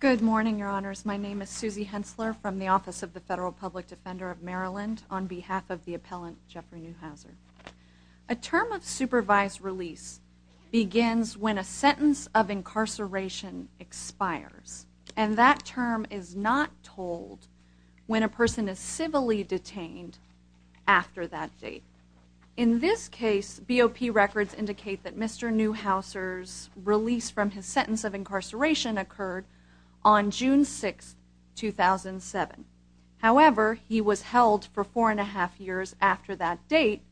Good morning, your honors. My name is Susie Hensler from the Office of the Federal Public Defender of Maryland on behalf of the appellant Jeffrey Neuhauser. A term of supervised release begins when a sentence of incarceration expires. And that term is not told when a person is civilly detained after that date. In this case, BOP records indicate that Mr. Neuhauser's release from his sentence of incarceration occurred on June 6, 2007. However, he was held for four and a half years after that date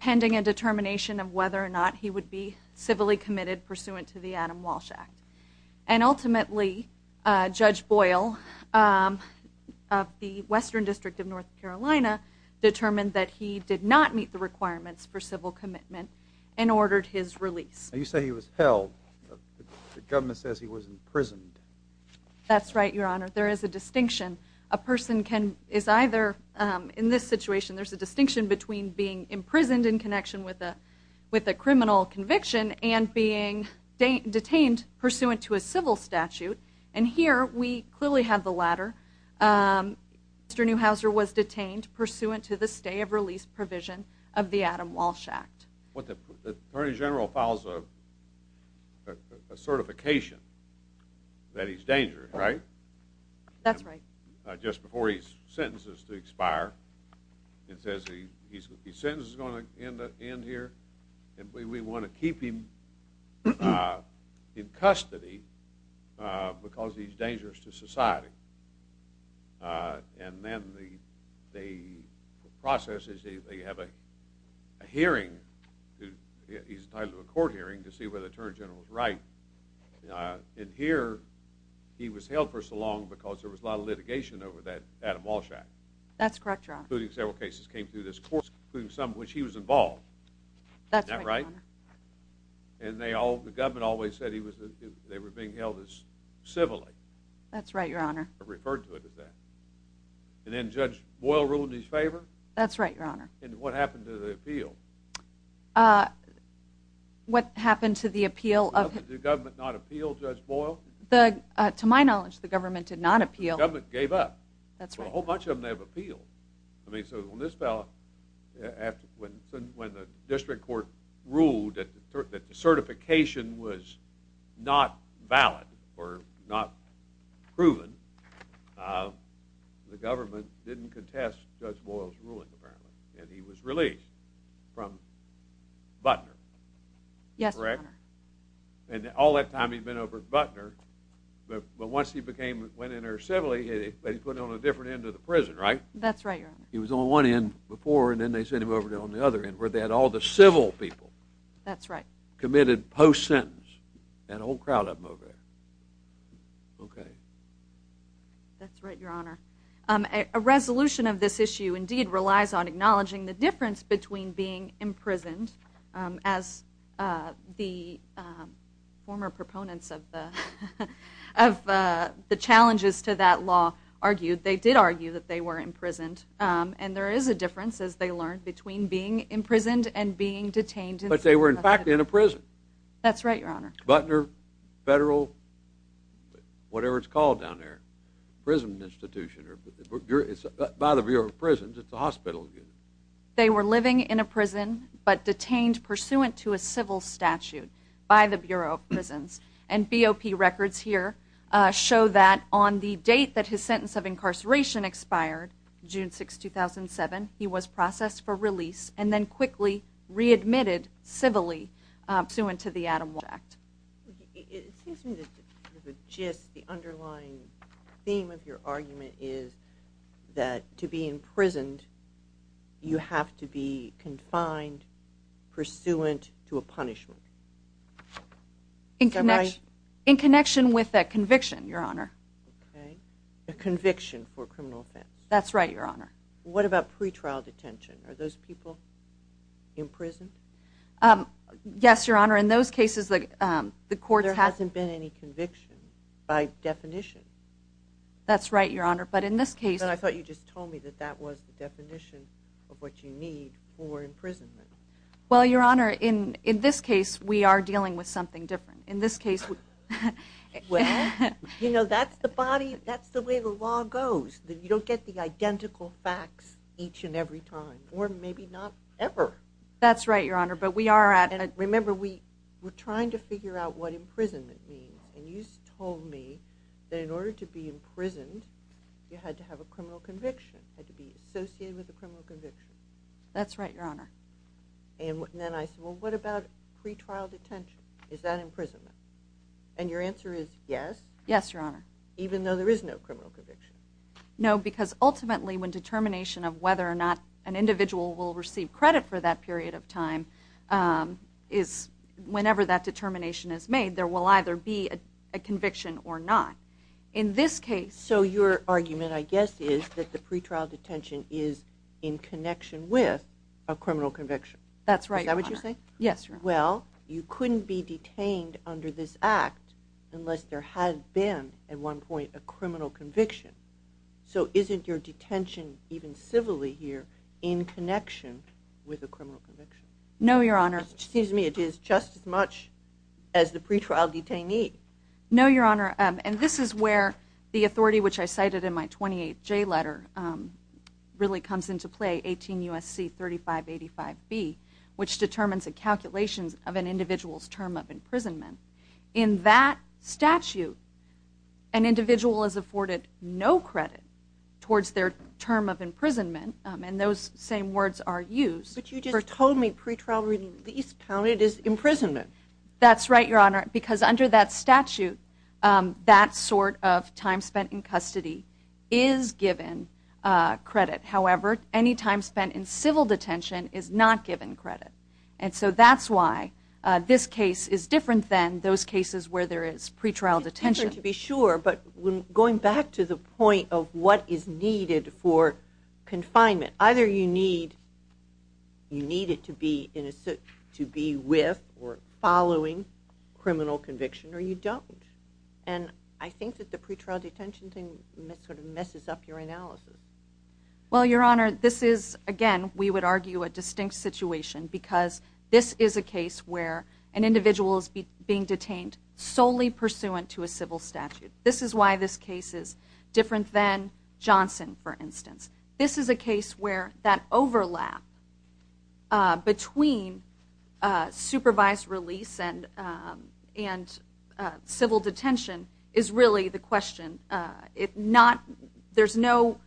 pending a determination of whether or not he would be civilly committed pursuant to the Adam Walsh Act. And ultimately, Judge Boyle of the Western District of North Carolina determined that he did not meet the requirements for civil commitment and ordered his release. You say he was held. The government says he was imprisoned. That's right, your honor. There is a distinction. A person is either, in this situation, there's a distinction between being imprisoned in connection with a criminal conviction and being detained pursuant to a civil statute. And here, we clearly have the latter. Mr. Neuhauser was detained pursuant to the stay of release provision of the Adam Walsh Act. The Attorney General files a certification that he's dangerous, right? That's right. Just before his sentence is to expire, it says his sentence is going to end here, and we want to keep him in custody because he's dangerous to society. And then the process is they have a hearing. He's entitled to a court hearing to see whether the Attorney General was right. And here, he was held for so long because there was a lot of litigation over that Adam Walsh Act. That's correct, your honor. Including several cases that came through this court, including some of which he was involved. That's right, your honor. Isn't that right? And the government always said they were being held as civilly. That's right, your honor. They referred to it as that. And then Judge Boyle ruled in his favor? That's right, your honor. And what happened to the appeal? What happened to the appeal of him? Did the government not appeal Judge Boyle? To my knowledge, the government did not appeal. The government gave up. That's right. Well, a whole bunch of them have appealed. I mean, so on this ballot, when the district court ruled that the certification was not valid or not proven, the government didn't contest Judge Boyle's ruling, apparently. And he was released from Butner. Yes, your honor. Correct? And all that time he'd been over at Butner. But once he went in there civilly, they put him on a different end of the prison, right? That's right, your honor. He was on one end before, and then they sent him over on the other end, where they had all the civil people. That's right. Committed post-sentence. And a whole crowd of them over there. Okay. That's right, your honor. A resolution of this issue indeed relies on acknowledging the difference between being imprisoned, as the former proponents of the challenges to that law argued. They did argue that they were imprisoned. And there is a difference, as they learned, between being imprisoned and being detained. But they were, in fact, in a prison. That's right, your honor. Butner Federal, whatever it's called down there, prison institution. By the Bureau of Prisons, it's a hospital. They were living in a prison, but detained pursuant to a civil statute by the Bureau of Prisons. And BOP records here show that on the date that his sentence of incarceration expired, June 6, 2007, he was processed for release and then quickly readmitted civilly pursuant to the Adam Walsh Act. It seems to me that the underlying theme of your argument is that to be imprisoned, you have to be confined pursuant to a punishment. In connection with a conviction, your honor. Okay. A conviction for a criminal offense. That's right, your honor. What about pretrial detention? Are those people imprisoned? Yes, your honor. In those cases, the courts have- There hasn't been any conviction by definition. That's right, your honor. But in this case- And I thought you just told me that that was the definition of what you need for imprisonment. Well, your honor, in this case, we are dealing with something different. In this case- Well, you know, that's the way the law goes. You don't get the identical facts each and every time. Or maybe not ever. That's right, your honor. But we are at- Remember, we're trying to figure out what imprisonment means. And you told me that in order to be imprisoned, you had to have a criminal conviction, had to be associated with a criminal conviction. That's right, your honor. And then I said, well, what about pretrial detention? Is that imprisonment? And your answer is yes. Yes, your honor. Even though there is no criminal conviction. No, because ultimately, when determination of whether or not an individual will receive credit for that period of time is whenever that determination is made, there will either be a conviction or not. In this case- So your argument, I guess, is that the pretrial detention is in connection with a criminal conviction. That's right, your honor. Is that what you're saying? Yes, your honor. Well, you couldn't be detained under this act unless there had been, at one point, a criminal conviction. So isn't your detention, even civilly here, in connection with a criminal conviction? No, your honor. It seems to me it is just as much as the pretrial detainee. No, your honor. And this is where the authority, which I cited in my 28th J letter, really comes into play, 18 U.S.C. 3585B, which determines the calculations of an individual's term of imprisonment. In that statute, an individual is afforded no credit towards their term of imprisonment. And those same words are used- But you just told me pretrial release counted as imprisonment. That's right, your honor. Because under that statute, that sort of time spent in custody is given credit. However, any time spent in civil detention is not given credit. And so that's why this case is different than those cases where there is pretrial detention. It's different to be sure, but going back to the point of what is needed for confinement, either you need it to be with or following criminal conviction, or you don't. And I think that the pretrial detention thing sort of messes up your analysis. Well, your honor, this is, again, we would argue a distinct situation because this is a case where an individual is being detained solely pursuant to a civil statute. This is why this case is different than Johnson, for instance. This is a case where that overlap between supervised release and civil detention is really the question. There's no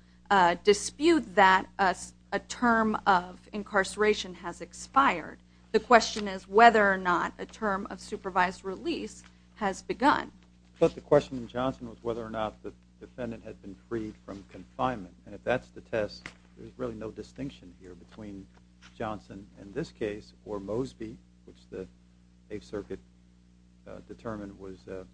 dispute that a term of incarceration has expired. The question is whether or not a term of supervised release has begun. But the question in Johnson was whether or not the defendant had been freed from confinement. And if that's the test, there's really no distinction here between Johnson in this case or Mosby, which the Eighth Circuit determined was that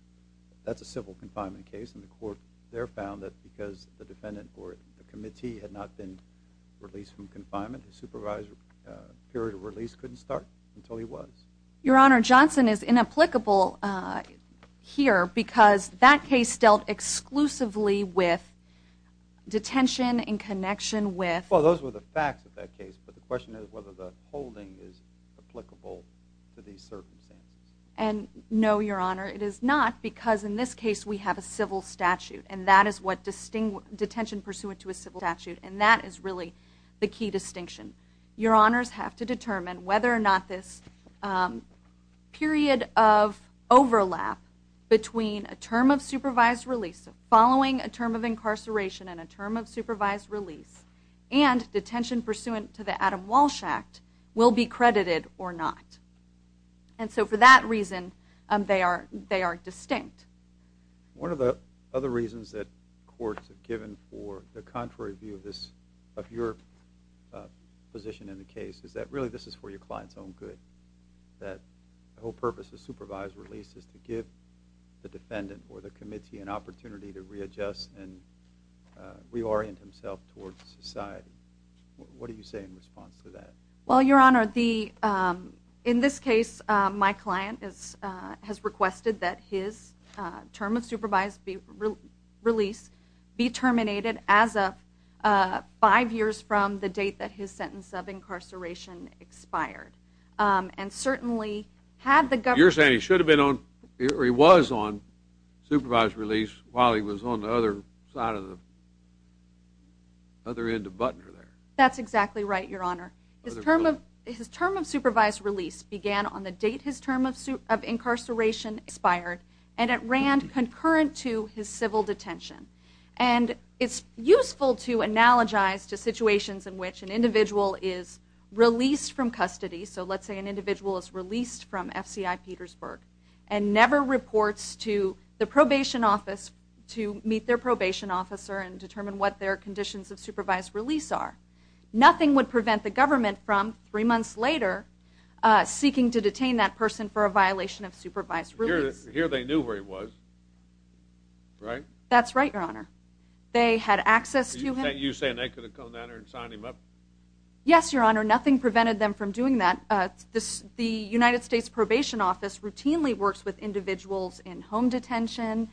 that's a civil confinement case. And the court there found that because the defendant or the committee had not been released from confinement, the supervised period of release couldn't start until he was. Your honor, Johnson is inapplicable here because that case dealt exclusively with detention in connection with— And no, your honor, it is not because in this case we have a civil statute. And that is what—detention pursuant to a civil statute. And that is really the key distinction. Your honors have to determine whether or not this period of overlap between a term of supervised release, following a term of incarceration and a term of supervised release, and detention pursuant to the Adam Walsh Act will be credited or not. And so for that reason, they are distinct. One of the other reasons that courts have given for the contrary view of your position in the case is that really this is for your client's own good, that the whole purpose of supervised release is to give the defendant or the committee an opportunity to readjust and reorient himself towards society. What do you say in response to that? Well, your honor, in this case my client has requested that his term of supervised release be terminated as of five years from the date that his sentence of incarceration expired. And certainly had the government— Somebody was on the other side of the—other end of Butner there. That's exactly right, your honor. His term of supervised release began on the date his term of incarceration expired, and it ran concurrent to his civil detention. And it's useful to analogize to situations in which an individual is released from custody, so let's say an individual is released from FCI Petersburg, and never reports to the probation office to meet their probation officer and determine what their conditions of supervised release are. Nothing would prevent the government from, three months later, seeking to detain that person for a violation of supervised release. Here they knew where he was, right? That's right, your honor. They had access to him. Are you saying they could have come down there and signed him up? Yes, your honor. Nothing prevented them from doing that. The United States Probation Office routinely works with individuals in home detention,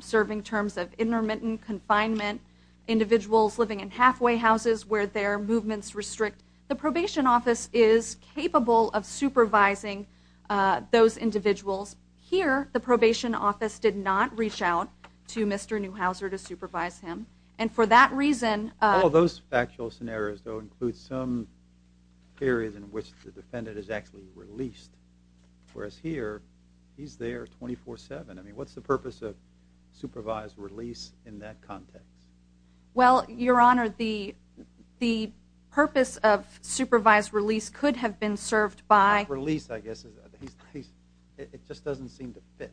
serving terms of intermittent confinement, individuals living in halfway houses where their movements restrict. The probation office is capable of supervising those individuals. Here, the probation office did not reach out to Mr. Neuhauser to supervise him. And for that reason— All those factual scenarios, though, include some areas in which the defendant is actually released, whereas here, he's there 24-7. I mean, what's the purpose of supervised release in that context? Well, your honor, the purpose of supervised release could have been served by— Not release, I guess. It just doesn't seem to fit.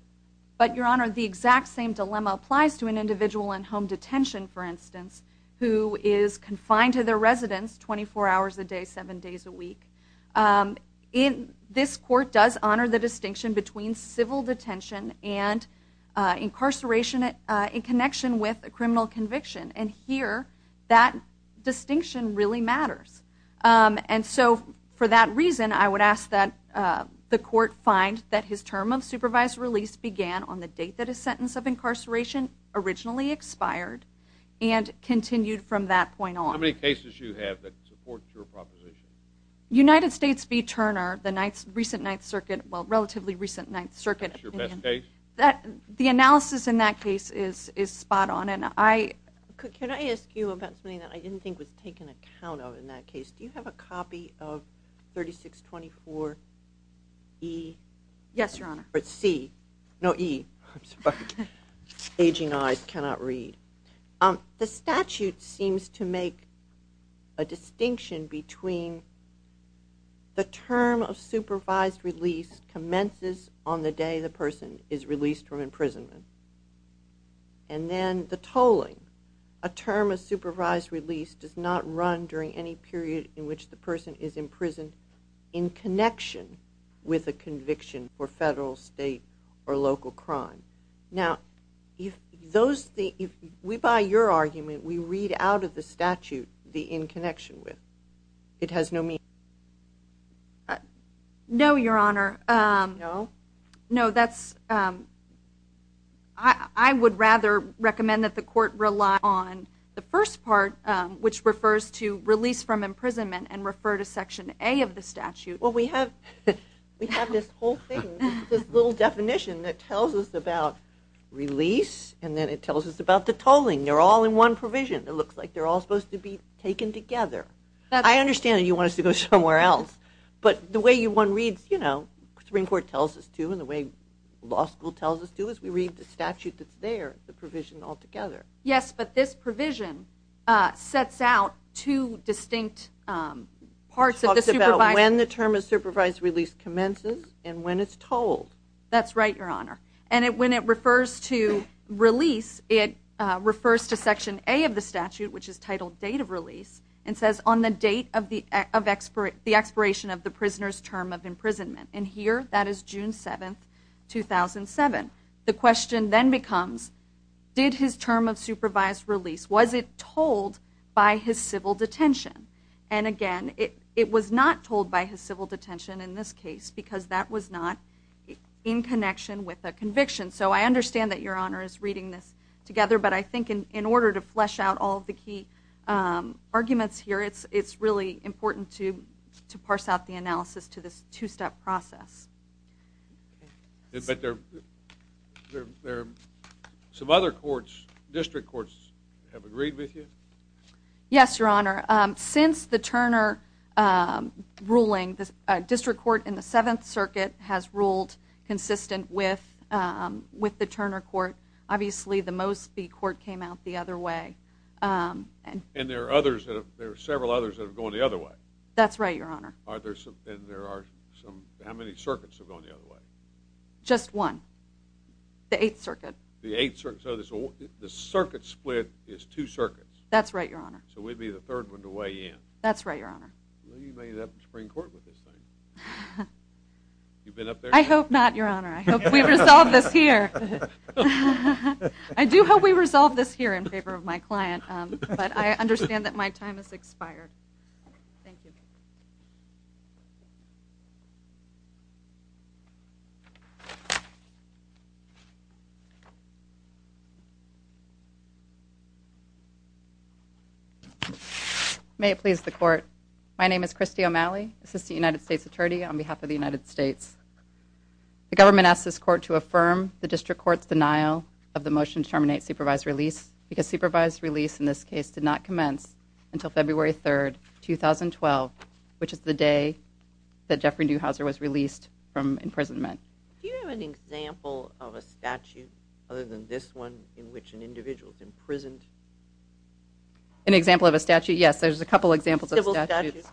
But, your honor, the exact same dilemma applies to an individual in home detention, for instance, who is confined to their residence 24 hours a day, 7 days a week. This court does honor the distinction between civil detention and incarceration in connection with a criminal conviction. And here, that distinction really matters. And so, for that reason, I would ask that the court find that his term of supervised release began on the date that his sentence of incarceration originally expired and continued from that point on. How many cases do you have that support your proposition? United States v. Turner, the recent Ninth Circuit—well, relatively recent Ninth Circuit. That's your best case? The analysis in that case is spot on. And I— Can I ask you about something that I didn't think was taken account of in that case? Do you have a copy of 3624E? Yes, your honor. Or C. No, E. Aging eyes cannot read. The statute seems to make a distinction between the term of supervised release commences on the day the person is released from imprisonment. And then the tolling. A term of supervised release does not run during any period in which the person is imprisoned in connection with a conviction for federal, state, or local crime. Now, if those—if we buy your argument, we read out of the statute the in connection with. It has no meaning. No, your honor. No? No, that's—I would rather recommend that the court rely on the first part, which refers to release from imprisonment, and refer to section A of the statute. Well, we have this whole thing, this little definition that tells us about release, and then it tells us about the tolling. They're all in one provision. It looks like they're all supposed to be taken together. I understand that you want us to go somewhere else. But the way one reads, you know, the Supreme Court tells us to, and the way law school tells us to, is we read the statute that's there, the provision altogether. Yes, but this provision sets out two distinct parts of the— It talks about when the term of supervised release commences and when it's tolled. That's right, your honor. And when it refers to release, it refers to section A of the statute, which is titled date of release, and says, on the date of the expiration of the prisoner's term of imprisonment. And here, that is June 7, 2007. The question then becomes, did his term of supervised release, was it tolled by his civil detention? And, again, it was not tolled by his civil detention in this case because that was not in connection with a conviction. So I understand that your honor is reading this together, but I think in order to flesh out all of the key arguments here, it's really important to parse out the analysis to this two-step process. But there are some other courts, district courts, have agreed with you? Yes, your honor. Since the Turner ruling, the district court in the Seventh Circuit has ruled consistent with the Turner court. Obviously, the Mosby court came out the other way. And there are several others that have gone the other way. That's right, your honor. How many circuits have gone the other way? Just one, the Eighth Circuit. The Circuit split is two circuits. That's right, your honor. So we'd be the third one to weigh in. That's right, your honor. You may end up in Supreme Court with this thing. I hope not, your honor. I hope we resolve this here. I do hope we resolve this here in favor of my client, but I understand that my time has expired. Thank you. May it please the court. My name is Christy O'Malley, Assistant United States Attorney on behalf of the United States. The government asks this court to affirm the district court's denial of the motion to terminate supervised release because supervised release in this case did not commence until February 3rd, 2012, which is the day that Jeffrey Neuhauser was released from imprisonment. Do you have an example of a statute other than this one in which an individual is imprisoned? An example of a statute? Yes, there's a couple examples of statutes. Civil statutes?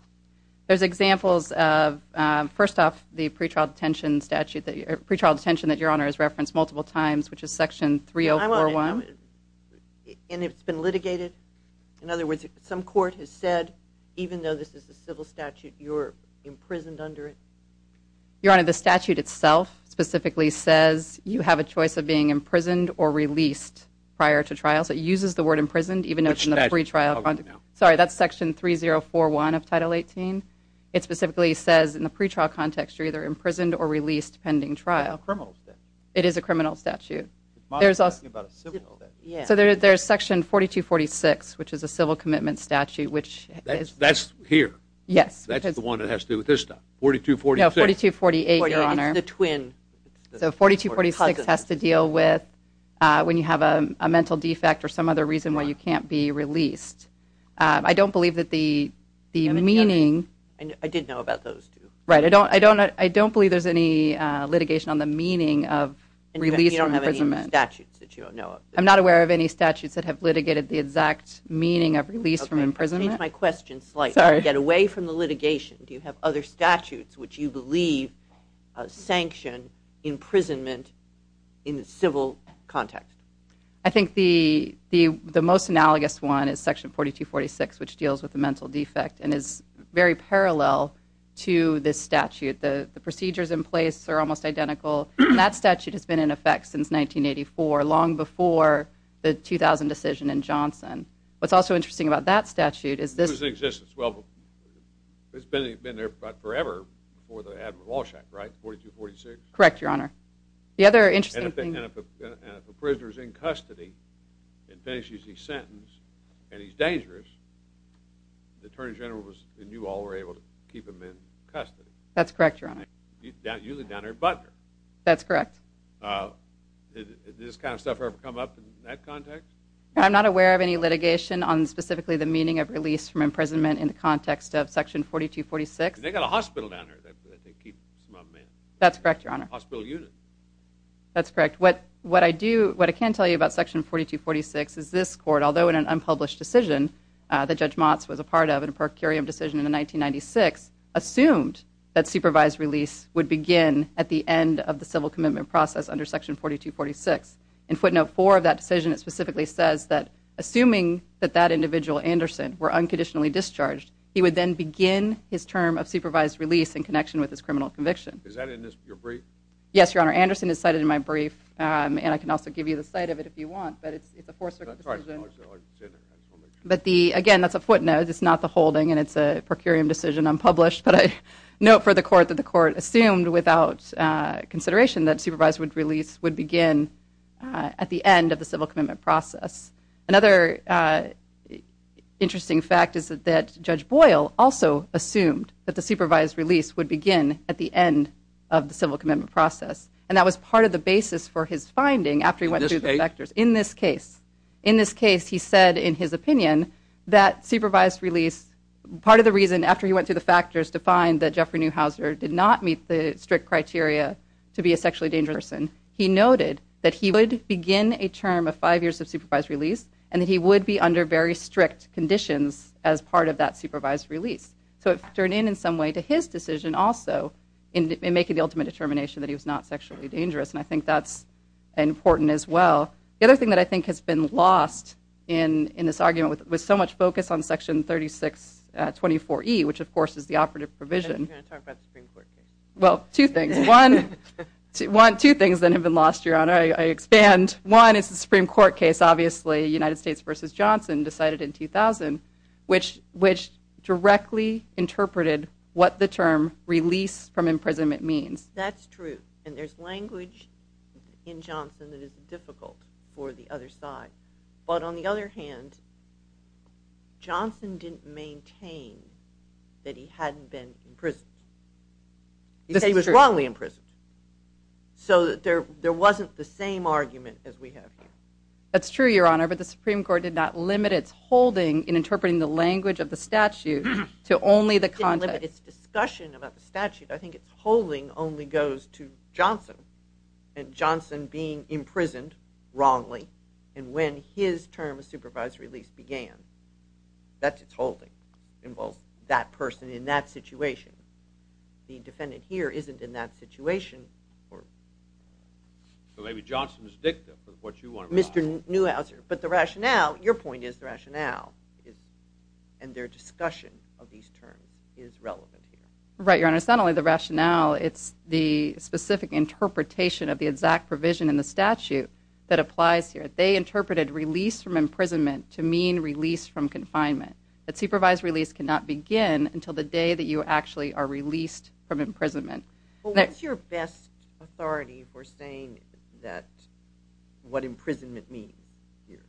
There's examples of, first off, the pretrial detention statute, pretrial detention that your honor has referenced multiple times, which is section 3041. And it's been litigated? In other words, some court has said, even though this is a civil statute, you're imprisoned under it? Your honor, the statute itself specifically says you have a choice of being imprisoned or released prior to trial. So it uses the word imprisoned even though it's in the pretrial context. Which statute? Sorry, that's section 3041 of Title 18. It specifically says in the pretrial context you're either imprisoned or released pending trial. That's a criminal statute. So there's section 4246, which is a civil commitment statute. That's here? Yes. That's the one that has to do with this stuff? 4246? No, 4248, your honor. It's the twin. So 4246 has to deal with when you have a mental defect or some other reason why you can't be released. I don't believe that the meaning... I did know about those two. Right, I don't believe there's any litigation on the meaning of release from imprisonment. You don't have any statutes that you don't know of? I'm not aware of any statutes that have litigated the exact meaning of release from imprisonment. Okay, I changed my question slightly. Get away from the litigation. Do you have other statutes which you believe sanction imprisonment in the civil context? I think the most analogous one is section 4246, which deals with the mental defect and is very parallel to this statute. The procedures in place are almost identical. That statute has been in effect since 1984, long before the 2000 decision in Johnson. What's also interesting about that statute is this... It was in existence. Well, it's been there forever before they had Walsh Act, right? 4246? Correct, your honor. The other interesting thing... And if a prisoner's in custody and finishes his sentence and he's dangerous, the attorney general and you all were able to keep him in custody. That's correct, your honor. But... That's correct. Did this kind of stuff ever come up in that context? I'm not aware of any litigation on specifically the meaning of release from imprisonment in the context of section 4246. They got a hospital down there that they keep some of them in. That's correct, your honor. Hospital units. That's correct. What I can tell you about section 4246 is this court, although in an unpublished decision that Judge Motz was a part of, in a per curiam decision in 1996, assumed that supervised release would begin at the end of the civil commitment process under section 4246. In footnote 4 of that decision, it specifically says that assuming that that individual, Anderson, were unconditionally discharged, he would then begin his term of supervised release in connection with his criminal conviction. Is that in your brief? Yes, your honor. Anderson is cited in my brief, and I can also give you the site of it if you want, but it's a four-circle decision. That's right. Again, that's a footnote. It's not the holding, and it's a per curiam decision unpublished, but I note for the court that the court assumed without consideration that supervised release would begin at the end of the civil commitment process. Another interesting fact is that Judge Boyle also assumed that the supervised release would begin at the end of the civil commitment process, and that was part of the basis for his finding after he went through the factors. In this case, he said in his opinion that supervised release, part of the reason after he went through the factors to find that Jeffrey Neuhauser did not meet the strict criteria to be a sexually dangerous person, he noted that he would begin a term of five years of supervised release, and that he would be under very strict conditions as part of that supervised release. So it turned in in some way to his decision also in making the ultimate determination that he was not sexually dangerous, and I think that's important as well. The other thing that I think has been lost in this argument was so much focus on Section 3624E, which of course is the operative provision. I thought you were going to talk about the Supreme Court case. Well, two things. One, two things that have been lost, Your Honor. I expand. One is the Supreme Court case, obviously, United States v. Johnson decided in 2000, which directly interpreted what the term release from imprisonment means. That's true, and there's language in Johnson that is difficult. But on the other hand, Johnson didn't maintain that he hadn't been imprisoned. He said he was wrongly imprisoned. So there wasn't the same argument as we have here. That's true, Your Honor, but the Supreme Court did not limit its holding in interpreting the language of the statute to only the context. It didn't limit its discussion about the statute. I think its holding only goes to Johnson, and Johnson being imprisoned wrongly, and when his term of supervisory release began. That's its holding. It involves that person in that situation. The defendant here isn't in that situation. So maybe Johnson was dicta for what you want to realize. Mr. Neuhauser. But the rationale, your point is the rationale, and their discussion of these terms is relevant here. Right, Your Honor. And it's not only the rationale. It's the specific interpretation of the exact provision in the statute that applies here. They interpreted release from imprisonment to mean release from confinement. That supervised release cannot begin until the day that you actually are released from imprisonment. What's your best authority for saying what imprisonment means here?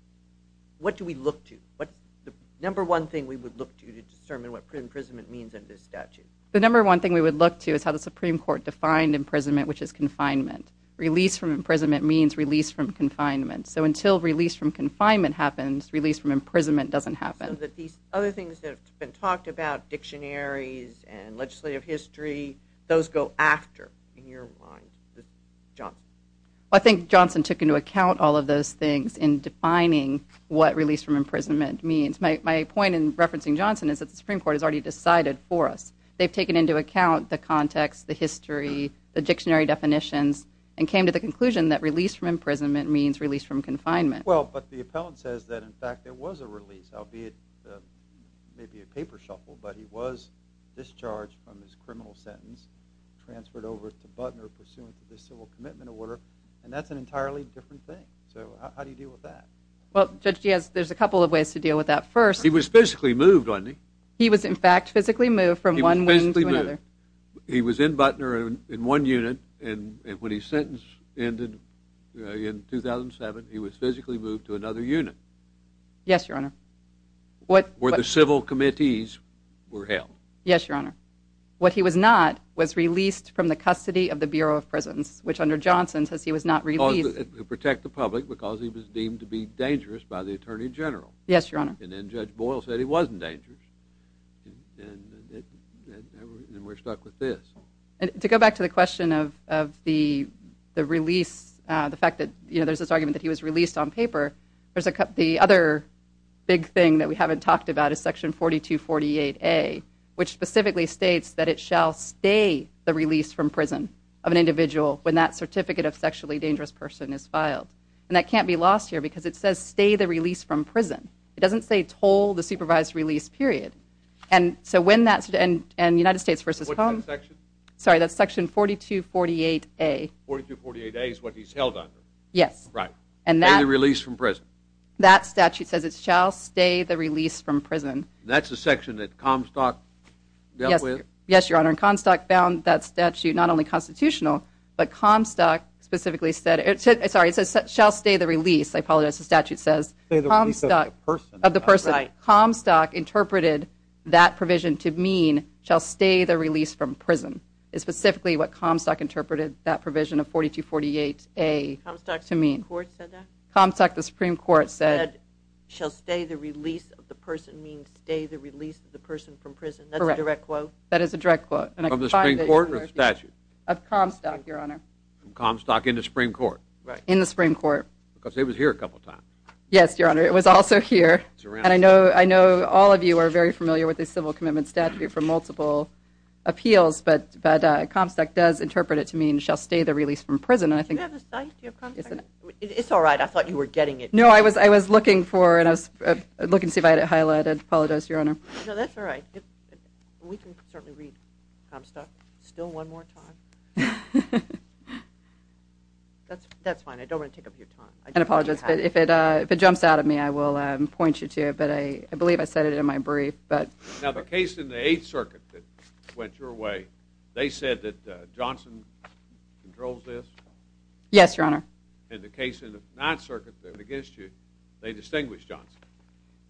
What do we look to? What's the number one thing we would look to to determine what imprisonment means under this statute? The number one thing we would look to is how the Supreme Court defined imprisonment, which is confinement. Release from imprisonment means release from confinement. So until release from confinement happens, release from imprisonment doesn't happen. So that these other things that have been talked about, dictionaries and legislative history, those go after, in your mind, Johnson. I think Johnson took into account all of those things in defining what release from imprisonment means. My point in referencing Johnson is that the Supreme Court has already decided for us. They've taken into account the context, the history, the dictionary definitions, and came to the conclusion that release from imprisonment means release from confinement. Well, but the appellant says that, in fact, there was a release, albeit maybe a paper shuffle, but he was discharged from his criminal sentence, transferred over to Butner pursuant to the civil commitment order, and that's an entirely different thing. So how do you deal with that? Well, Judge, there's a couple of ways to deal with that. First... He was physically moved, wasn't he? He was, in fact, physically moved from one wing to another. He was physically moved. He was in Butner in one unit, and when his sentence ended in 2007, he was physically moved to another unit. Yes, Your Honor. Where the civil committees were held. Yes, Your Honor. What he was not was released from the custody of the Bureau of Prisons, which under Johnson says he was not released... To protect the public because he was deemed to be dangerous by the Attorney General. Yes, Your Honor. And then Judge Boyle said he wasn't dangerous, and we're stuck with this. To go back to the question of the release, the fact that there's this argument that he was released on paper, the other big thing that we haven't talked about is Section 4248A, which specifically states that it shall stay the release from prison of an individual when that Certificate of Sexually Dangerous Person is filed. And that can't be lost here because it says stay the release from prison. It doesn't say toll the supervised release period. And so when that... And United States v. Cone... What's that section? Sorry, that's Section 4248A. 4248A is what he's held under. Yes. Right. And that... Stay the release from prison. That's the section that Comstock dealt with? Yes, Your Honor. And Comstock found that statute not only constitutional, but Comstock specifically said... Sorry, it says shall stay the release. I apologize. The statute says Comstock... Stay the release of the person. Of the person. Right. Comstock interpreted that provision to mean shall stay the release from prison is specifically what Comstock interpreted that provision of 4248A to mean. Comstock's Supreme Court said that? Comstock, the Supreme Court, said... Comstock said shall stay the release of the person means stay the release of the person from prison. That's a direct quote? That is a direct quote. Of the Supreme Court or the statute? Of Comstock, Your Honor. Comstock in the Supreme Court. In the Supreme Court. Because it was here a couple times. Yes, Your Honor. It was also here. And I know all of you are very familiar with the civil commitment statute for multiple appeals, but Comstock does interpret it to mean shall stay the release from prison. Do you have the statute? Do you have Comstock? It's all right. I thought you were getting it. No, I was looking for it. I was looking to see if I had it highlighted. I apologize, Your Honor. No, that's all right. We can certainly read Comstock still one more time. That's fine. I don't want to take up your time. I apologize. If it jumps out at me, I will point you to it, but I believe I said it in my brief. Now, the case in the Eighth Circuit that went your way, they said that Johnson controls this? Yes, Your Honor. And the case in the Ninth Circuit, they were against you. They distinguished Johnson.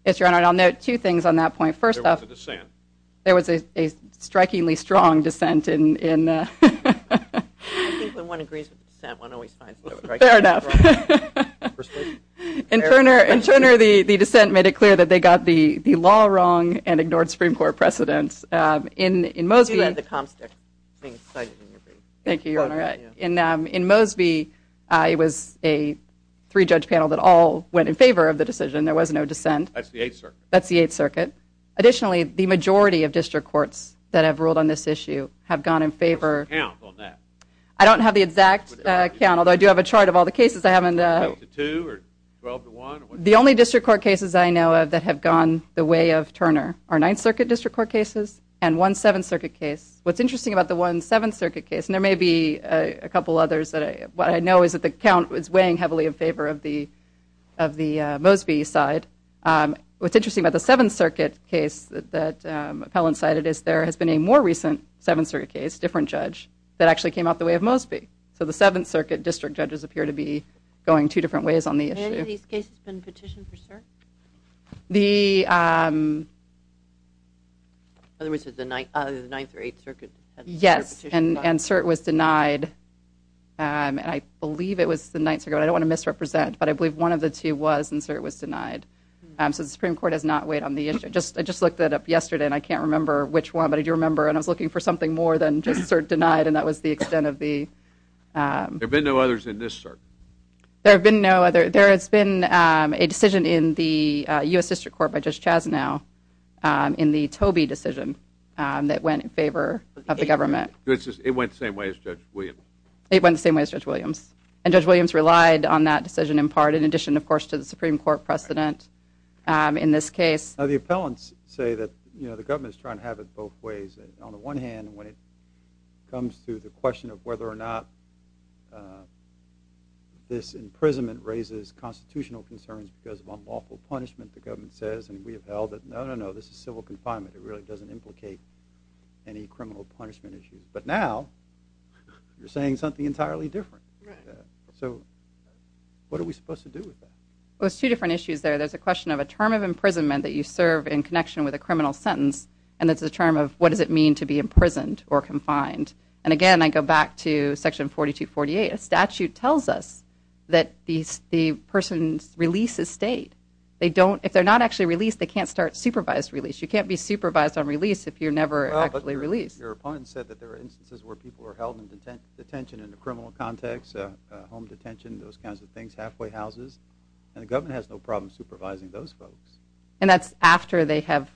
Yes, Your Honor, and I'll note two things on that point. There was a dissent. There was a strikingly strong dissent. I think when one agrees with dissent, one always finds the right thing. Fair enough. And Turner, the dissent made it clear that they got the law wrong and ignored Supreme Court precedents. In Mosby, You had the Comstock thing cited in your brief. Thank you, Your Honor. In Mosby, it was a three-judge panel that all went in favor of the decision. There was no dissent. That's the Eighth Circuit. Additionally, the majority of district courts that have ruled on this issue have gone in favor. What's the count on that? I don't have the exact count, although I do have a chart of all the cases. I haven't 12 to 2 or 12 to 1? The only district court cases I know of that have gone the way of Turner are Ninth Circuit district court cases and one Seventh Circuit case. What's interesting about the one Seventh Circuit case, and there may be a couple others, what I know is that the count is weighing heavily in favor of the Mosby side. What's interesting about the Seventh Circuit case that Appellant cited is there has been a more recent Seventh Circuit case, a different judge, that actually came out the way of Mosby. So the Seventh Circuit district judges appear to be going two different ways on the issue. Have any of these cases been petitioned for cert? In other words, the Ninth or Eighth Circuit? Yes, and cert was denied. I believe it was the Ninth Circuit. I don't want to misrepresent, but I believe one of the two was, and cert was denied. So the Supreme Court has not weighed on the issue. I just looked it up yesterday, and I can't remember which one, but I do remember, and I was looking for something more than just cert denied, and that was the extent of the... There have been no others in this cert. There have been no others. There has been a decision in the U.S. District Court by Judge Chasnow in the Tobey decision that went in favor of the government. It went the same way as Judge Williams. It went the same way as Judge Williams. And Judge Williams relied on that decision in part, in addition, of course, to the Supreme Court precedent in this case. The appellants say that the government is trying to have it both ways. On the one hand, when it comes to the question of whether or not this imprisonment raises constitutional concerns because of unlawful punishment, the government says, and we have held it, no, no, no, this is civil confinement. It really doesn't implicate any criminal punishment issue. But now you're saying something entirely different. So what are we supposed to do with that? There's two different issues there. There's a question of a term of imprisonment that you serve in connection with a criminal sentence, and there's a term of what does it mean to be imprisoned or confined. And, again, I go back to Section 4248. A statute tells us that the person's release is state. If they're not actually released, they can't start supervised release. You can't be supervised on release if you're never actually released. Your opponent said that there are instances where people are held in detention in a criminal context, home detention, those kinds of things, halfway houses, and the government has no problem supervising those folks. And that's after they have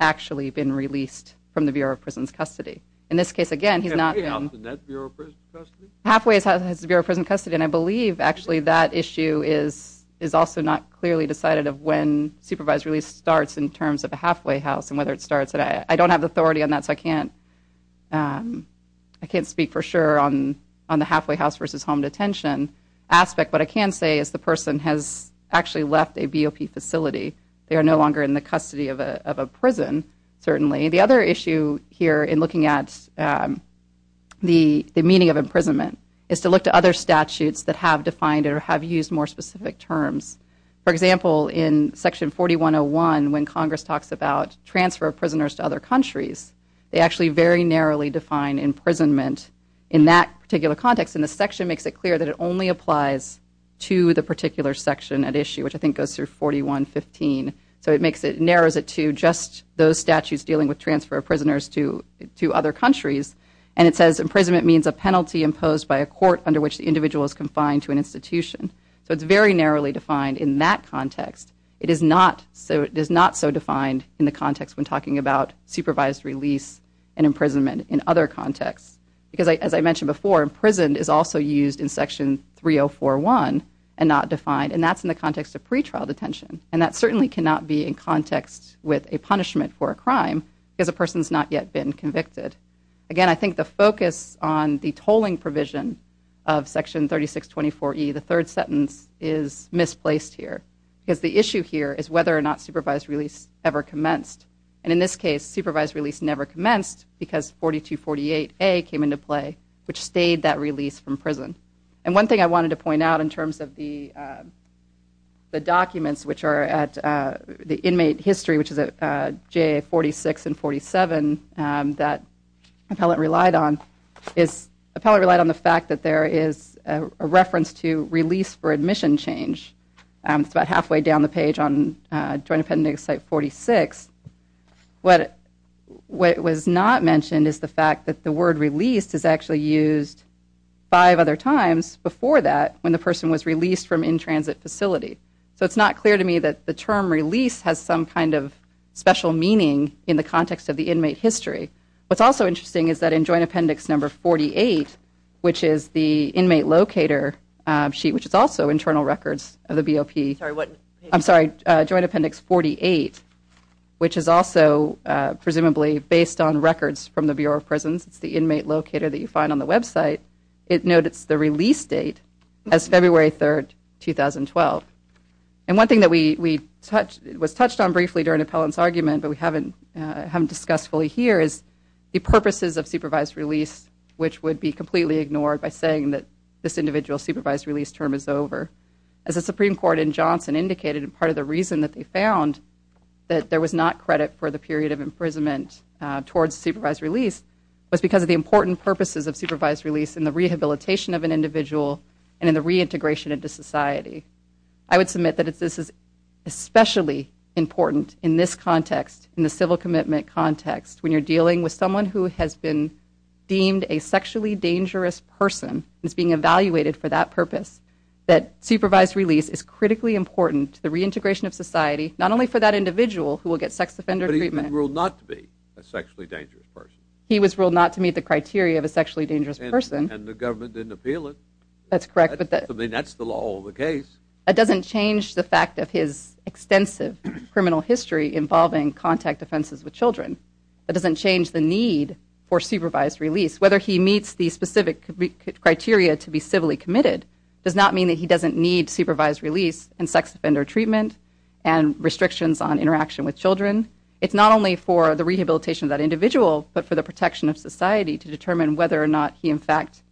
actually been released from the Bureau of Prisons' custody. In this case, again, he's not been... Halfway house in that Bureau of Prisons' custody? Halfway house is the Bureau of Prisons' custody, and I believe, actually, that issue is also not clearly decided of when supervised release starts in terms of a halfway house and whether it starts. I don't have authority on that, so I can't speak for sure on the halfway house versus home detention aspect, but I can say is the person has actually left a BOP facility. They are no longer in the custody of a prison, certainly. The other issue here in looking at the meaning of imprisonment is to look to other statutes that have defined or have used more specific terms. For example, in Section 4101, when Congress talks about transfer of prisoners to other countries, they actually very narrowly define imprisonment in that particular context, and the section makes it clear that it only applies to the particular section at issue, which I think goes through 4115. So it narrows it to just those statutes dealing with transfer of prisoners to other countries, and it says imprisonment means a penalty imposed by a court under which the individual is confined to an institution. So it's very narrowly defined in that context. It is not so defined in the context when talking about supervised release and imprisonment in other contexts, because as I mentioned before, imprisoned is also used in Section 3041 and not defined, and that's in the context of pretrial detention, and that certainly cannot be in context with a punishment for a crime because a person's not yet been convicted. Again, I think the focus on the tolling provision of Section 3624E, the third sentence, is misplaced here because the issue here is whether or not supervised release ever commenced, and in this case, supervised release never commenced because 4248A came into play, which stayed that release from prison. And one thing I wanted to point out in terms of the documents which are at the inmate history, which is at J46 and 47, that appellate relied on is appellate relied on the fact that there is a reference to release for admission change about halfway down the page on Joint Appendix site 46. What was not mentioned is the fact that the word released is actually used five other times before that when the person was released from in-transit facility. So it's not clear to me that the term release has some kind of special meaning in the context of the inmate history. What's also interesting is that in Joint Appendix number 48, which is the inmate locator sheet, which is also internal records of the BOP. I'm sorry, Joint Appendix 48, which is also presumably based on records from the Bureau of Prisons. It's the inmate locator that you find on the website. It notes the release date as February 3, 2012. And one thing that was touched on briefly during Appellant's argument but we haven't discussed fully here is the purposes of supervised release, which would be completely ignored by saying that this individual supervised release term is over. As the Supreme Court in Johnson indicated, part of the reason that they found that there was not credit for the period of imprisonment towards supervised release was because of the important purposes of supervised release in the rehabilitation of an individual and in the reintegration into society. I would submit that this is especially important in this context, in the civil commitment context, when you're dealing with someone who has been deemed a sexually dangerous person and is being evaluated for that purpose, that supervised release is critically important to the reintegration of society, not only for that individual who will get sex offender treatment. But he was ruled not to be a sexually dangerous person. He was ruled not to meet the criteria of a sexually dangerous person. And the government didn't appeal it. That's correct. I mean, that's the law of the case. That doesn't change the fact of his extensive criminal history involving contact offenses with children. That doesn't change the need for supervised release. Whether he meets the specific criteria to be civilly committed does not mean that he doesn't need supervised release and sex offender treatment and restrictions on interaction with children. It's not only for the rehabilitation of that individual, but for the protection of society to determine whether or not he, in fact,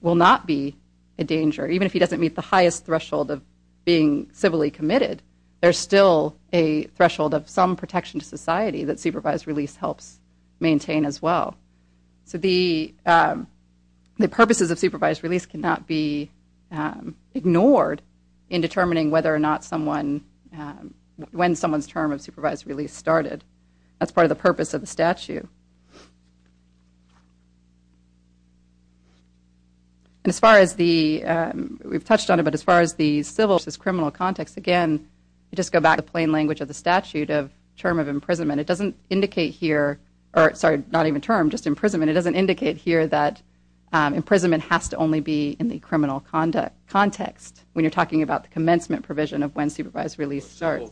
will not be a danger. Even if he doesn't meet the highest threshold of being civilly committed, there's still a threshold of some protection to society that supervised release helps maintain as well. So the purposes of supervised release cannot be ignored in determining whether or not someone... when someone's term of supervised release started. That's part of the purpose of the statute. And as far as the... we've touched on it, but as far as the civil versus criminal context, again, you just go back to the plain language of the statute of term of imprisonment. It doesn't indicate here... or, sorry, not even term, just imprisonment. It doesn't indicate here that imprisonment has to only be in the criminal context when you're talking about the commencement provision of when supervised release starts.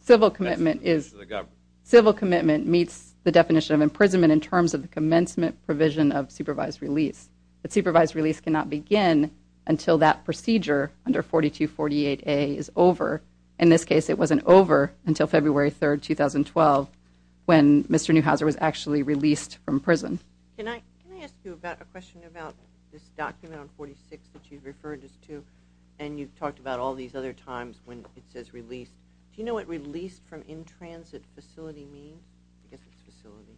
Civil commitment is... Civil commitment meets the definition of imprisonment in terms of the commencement provision of supervised release. But supervised release cannot begin until that procedure under 4248A is over. In this case, it wasn't over until February 3, 2012, when Mr. Neuhauser was actually released from prison. Can I ask you a question about this document on 46 that you referred us to? And you've talked about all these other times when it says released. Do you know what released from in-transit facility means? I guess it's facility.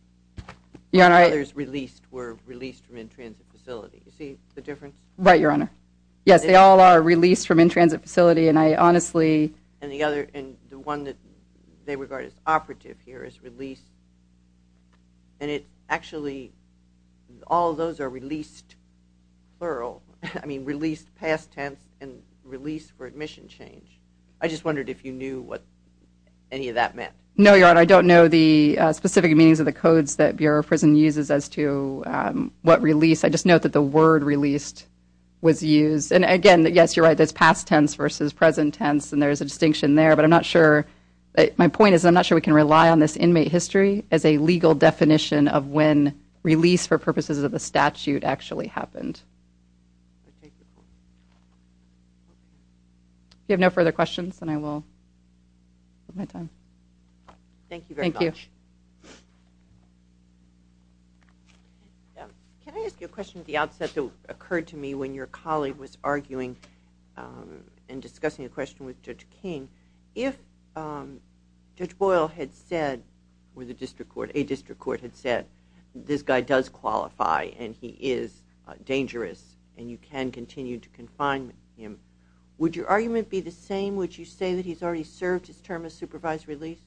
When others released were released from in-transit facility. You see the difference? Right, Your Honor. Yes, they all are released from in-transit facility, and I honestly... And the other... And the one that they regard as operative here is released. And it actually... All of those are released, plural. I mean, released, past tense, and released for admission change. I just wondered if you knew what any of that meant. No, Your Honor. I don't know the specific meanings of the codes that Bureau of Prison uses as to what release. I just know that the word released was used. And again, yes, you're right. There's past tense versus present tense, and there's a distinction there. But I'm not sure... My point is I'm not sure we can rely on this inmate history as a legal definition of when release for purposes of the statute actually happened. If you have no further questions, then I will... Thank you very much. Thank you. Can I ask you a question at the outset that occurred to me when your colleague was arguing and discussing a question with Judge King? If Judge Boyle had said, or a district court had said, this guy does qualify and he is dangerous and you can continue to confine him, would your argument be the same? Would you say that he's already served his term of supervised release?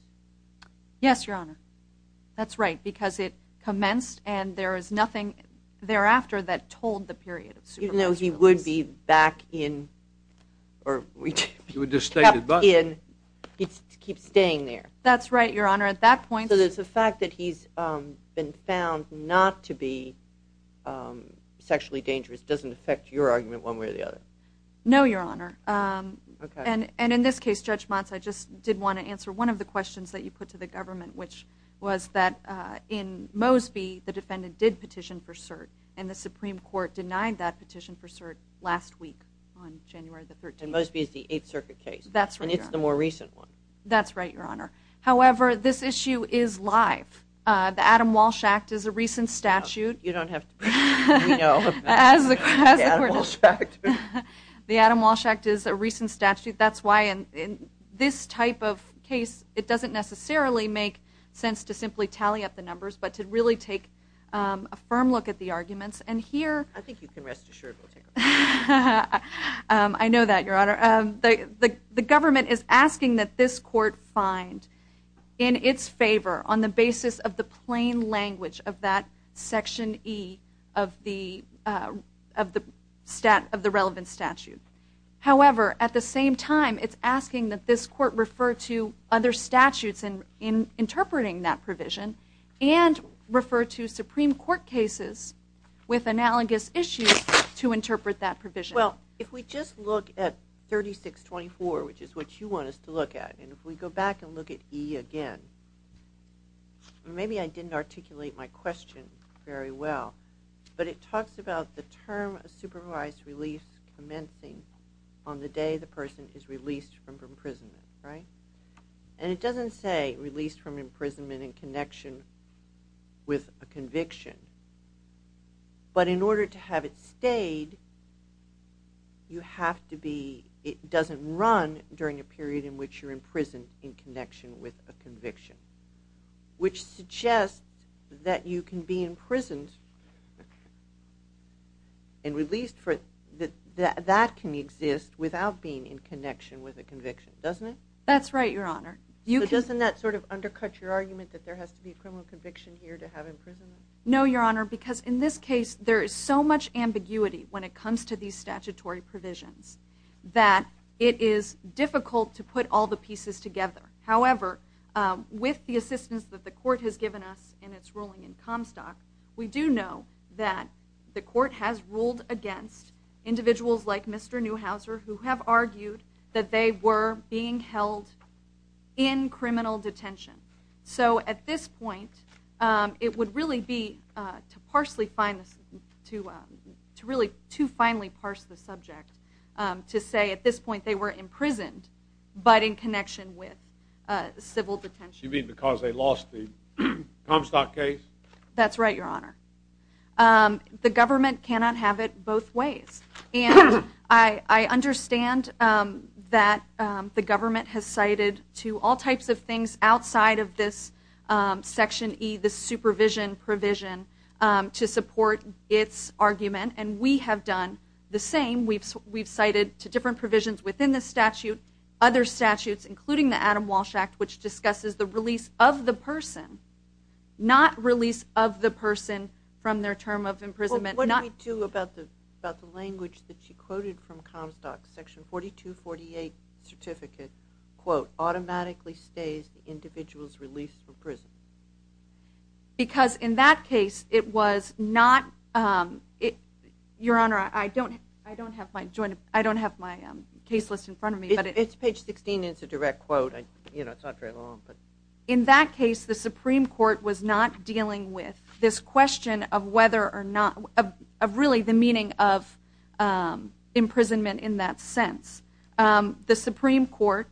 Yes, Your Honor. That's right, because it commenced and there is nothing thereafter that told the period even though he would be back in... He would just stay at the bus. He keeps staying there. That's right, Your Honor. At that point... So the fact that he's been found not to be sexually dangerous doesn't affect your argument one way or the other? No, Your Honor. And in this case, Judge Motz, I just did want to answer one of the questions that you put to the government, which was that in Mosby, the defendant did petition for cert, and the Supreme Court denied that petition for cert last week on January the 13th. And Mosby is the Eighth Circuit case. That's right, Your Honor. And it's the more recent one. That's right, Your Honor. However, this issue is live. The Adam Walsh Act is a recent statute. You don't have to... We know. The Adam Walsh Act is a recent statute. That's why in this type of case, it doesn't necessarily make sense to simply tally up the numbers, but to really take a firm look at the arguments. I think you can rest assured we'll take a look. I know that, Your Honor. The government is asking that this court find in its favor, on the basis of the plain language of that Section E of the relevant statute. However, at the same time, it's asking that this court refer to other statutes in interpreting that provision and refer to Supreme Court cases with analogous issues to interpret that provision. Well, if we just look at 3624, which is what you want us to look at, and if we go back and look at E again, maybe I didn't articulate my question very well, but it talks about the term of supervised release commencing on the day the person is released from imprisonment, right? And it doesn't say released from imprisonment in connection with a conviction. But in order to have it stayed, it doesn't run during a period in which you're in prison in connection with a conviction, which suggests that you can be imprisoned and released. That can exist without being in connection with a conviction, doesn't it? That's right, Your Honor. But doesn't that sort of undercut your argument that there has to be a criminal conviction here to have imprisonment? No, Your Honor, because in this case, there is so much ambiguity when it comes to these statutory provisions that it is difficult to put all the pieces together. However, with the assistance that the court has given us in its ruling in Comstock, we do know that the court has ruled against individuals like Mr. Neuhauser who have argued that they were being held in criminal detention. So at this point, it would really be to really too finely parse the subject to say at this point they were imprisoned but in connection with civil detention. You mean because they lost the Comstock case? That's right, Your Honor. The government cannot have it both ways. And I understand that the government has cited to all types of things outside of this Section E, the supervision provision, to support its argument. And we have done the same. We've cited to different provisions within the statute, other statutes, including the Adam Walsh Act, which discusses the release of the person, not release of the person from their term of imprisonment. What did we do about the language that she quoted from Comstock's Section 4248 certificate, quote, automatically stays the individual's release from prison? Because in that case, it was not... Your Honor, I don't have my case list in front of me. It's page 16. It's a direct quote. It's not very long. In that case, the Supreme Court was not dealing with this question of whether or not, of really the meaning of imprisonment in that sense. The Supreme Court...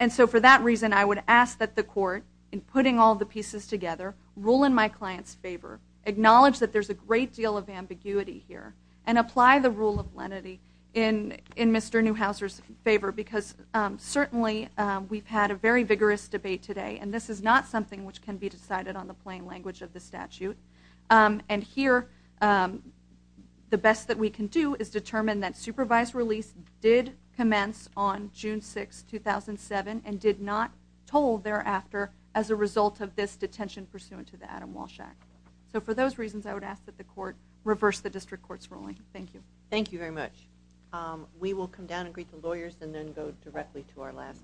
And so for that reason, I would ask that the Court, in putting all the pieces together, rule in my client's favor, acknowledge that there's a great deal of ambiguity here, and apply the rule of lenity in Mr. Newhauser's favor, because certainly we've had a very vigorous debate today, and this is not something which can be decided on the plain language of the statute. And here, the best that we can do is determine that supervised release did commence on June 6, 2007, and did not toll thereafter as a result of this detention pursuant to the Adam Walsh Act. So for those reasons, I would ask that the Court reverse the District Court's ruling. Thank you. Thank you very much. We will come down and greet the lawyers and then go directly to our last case.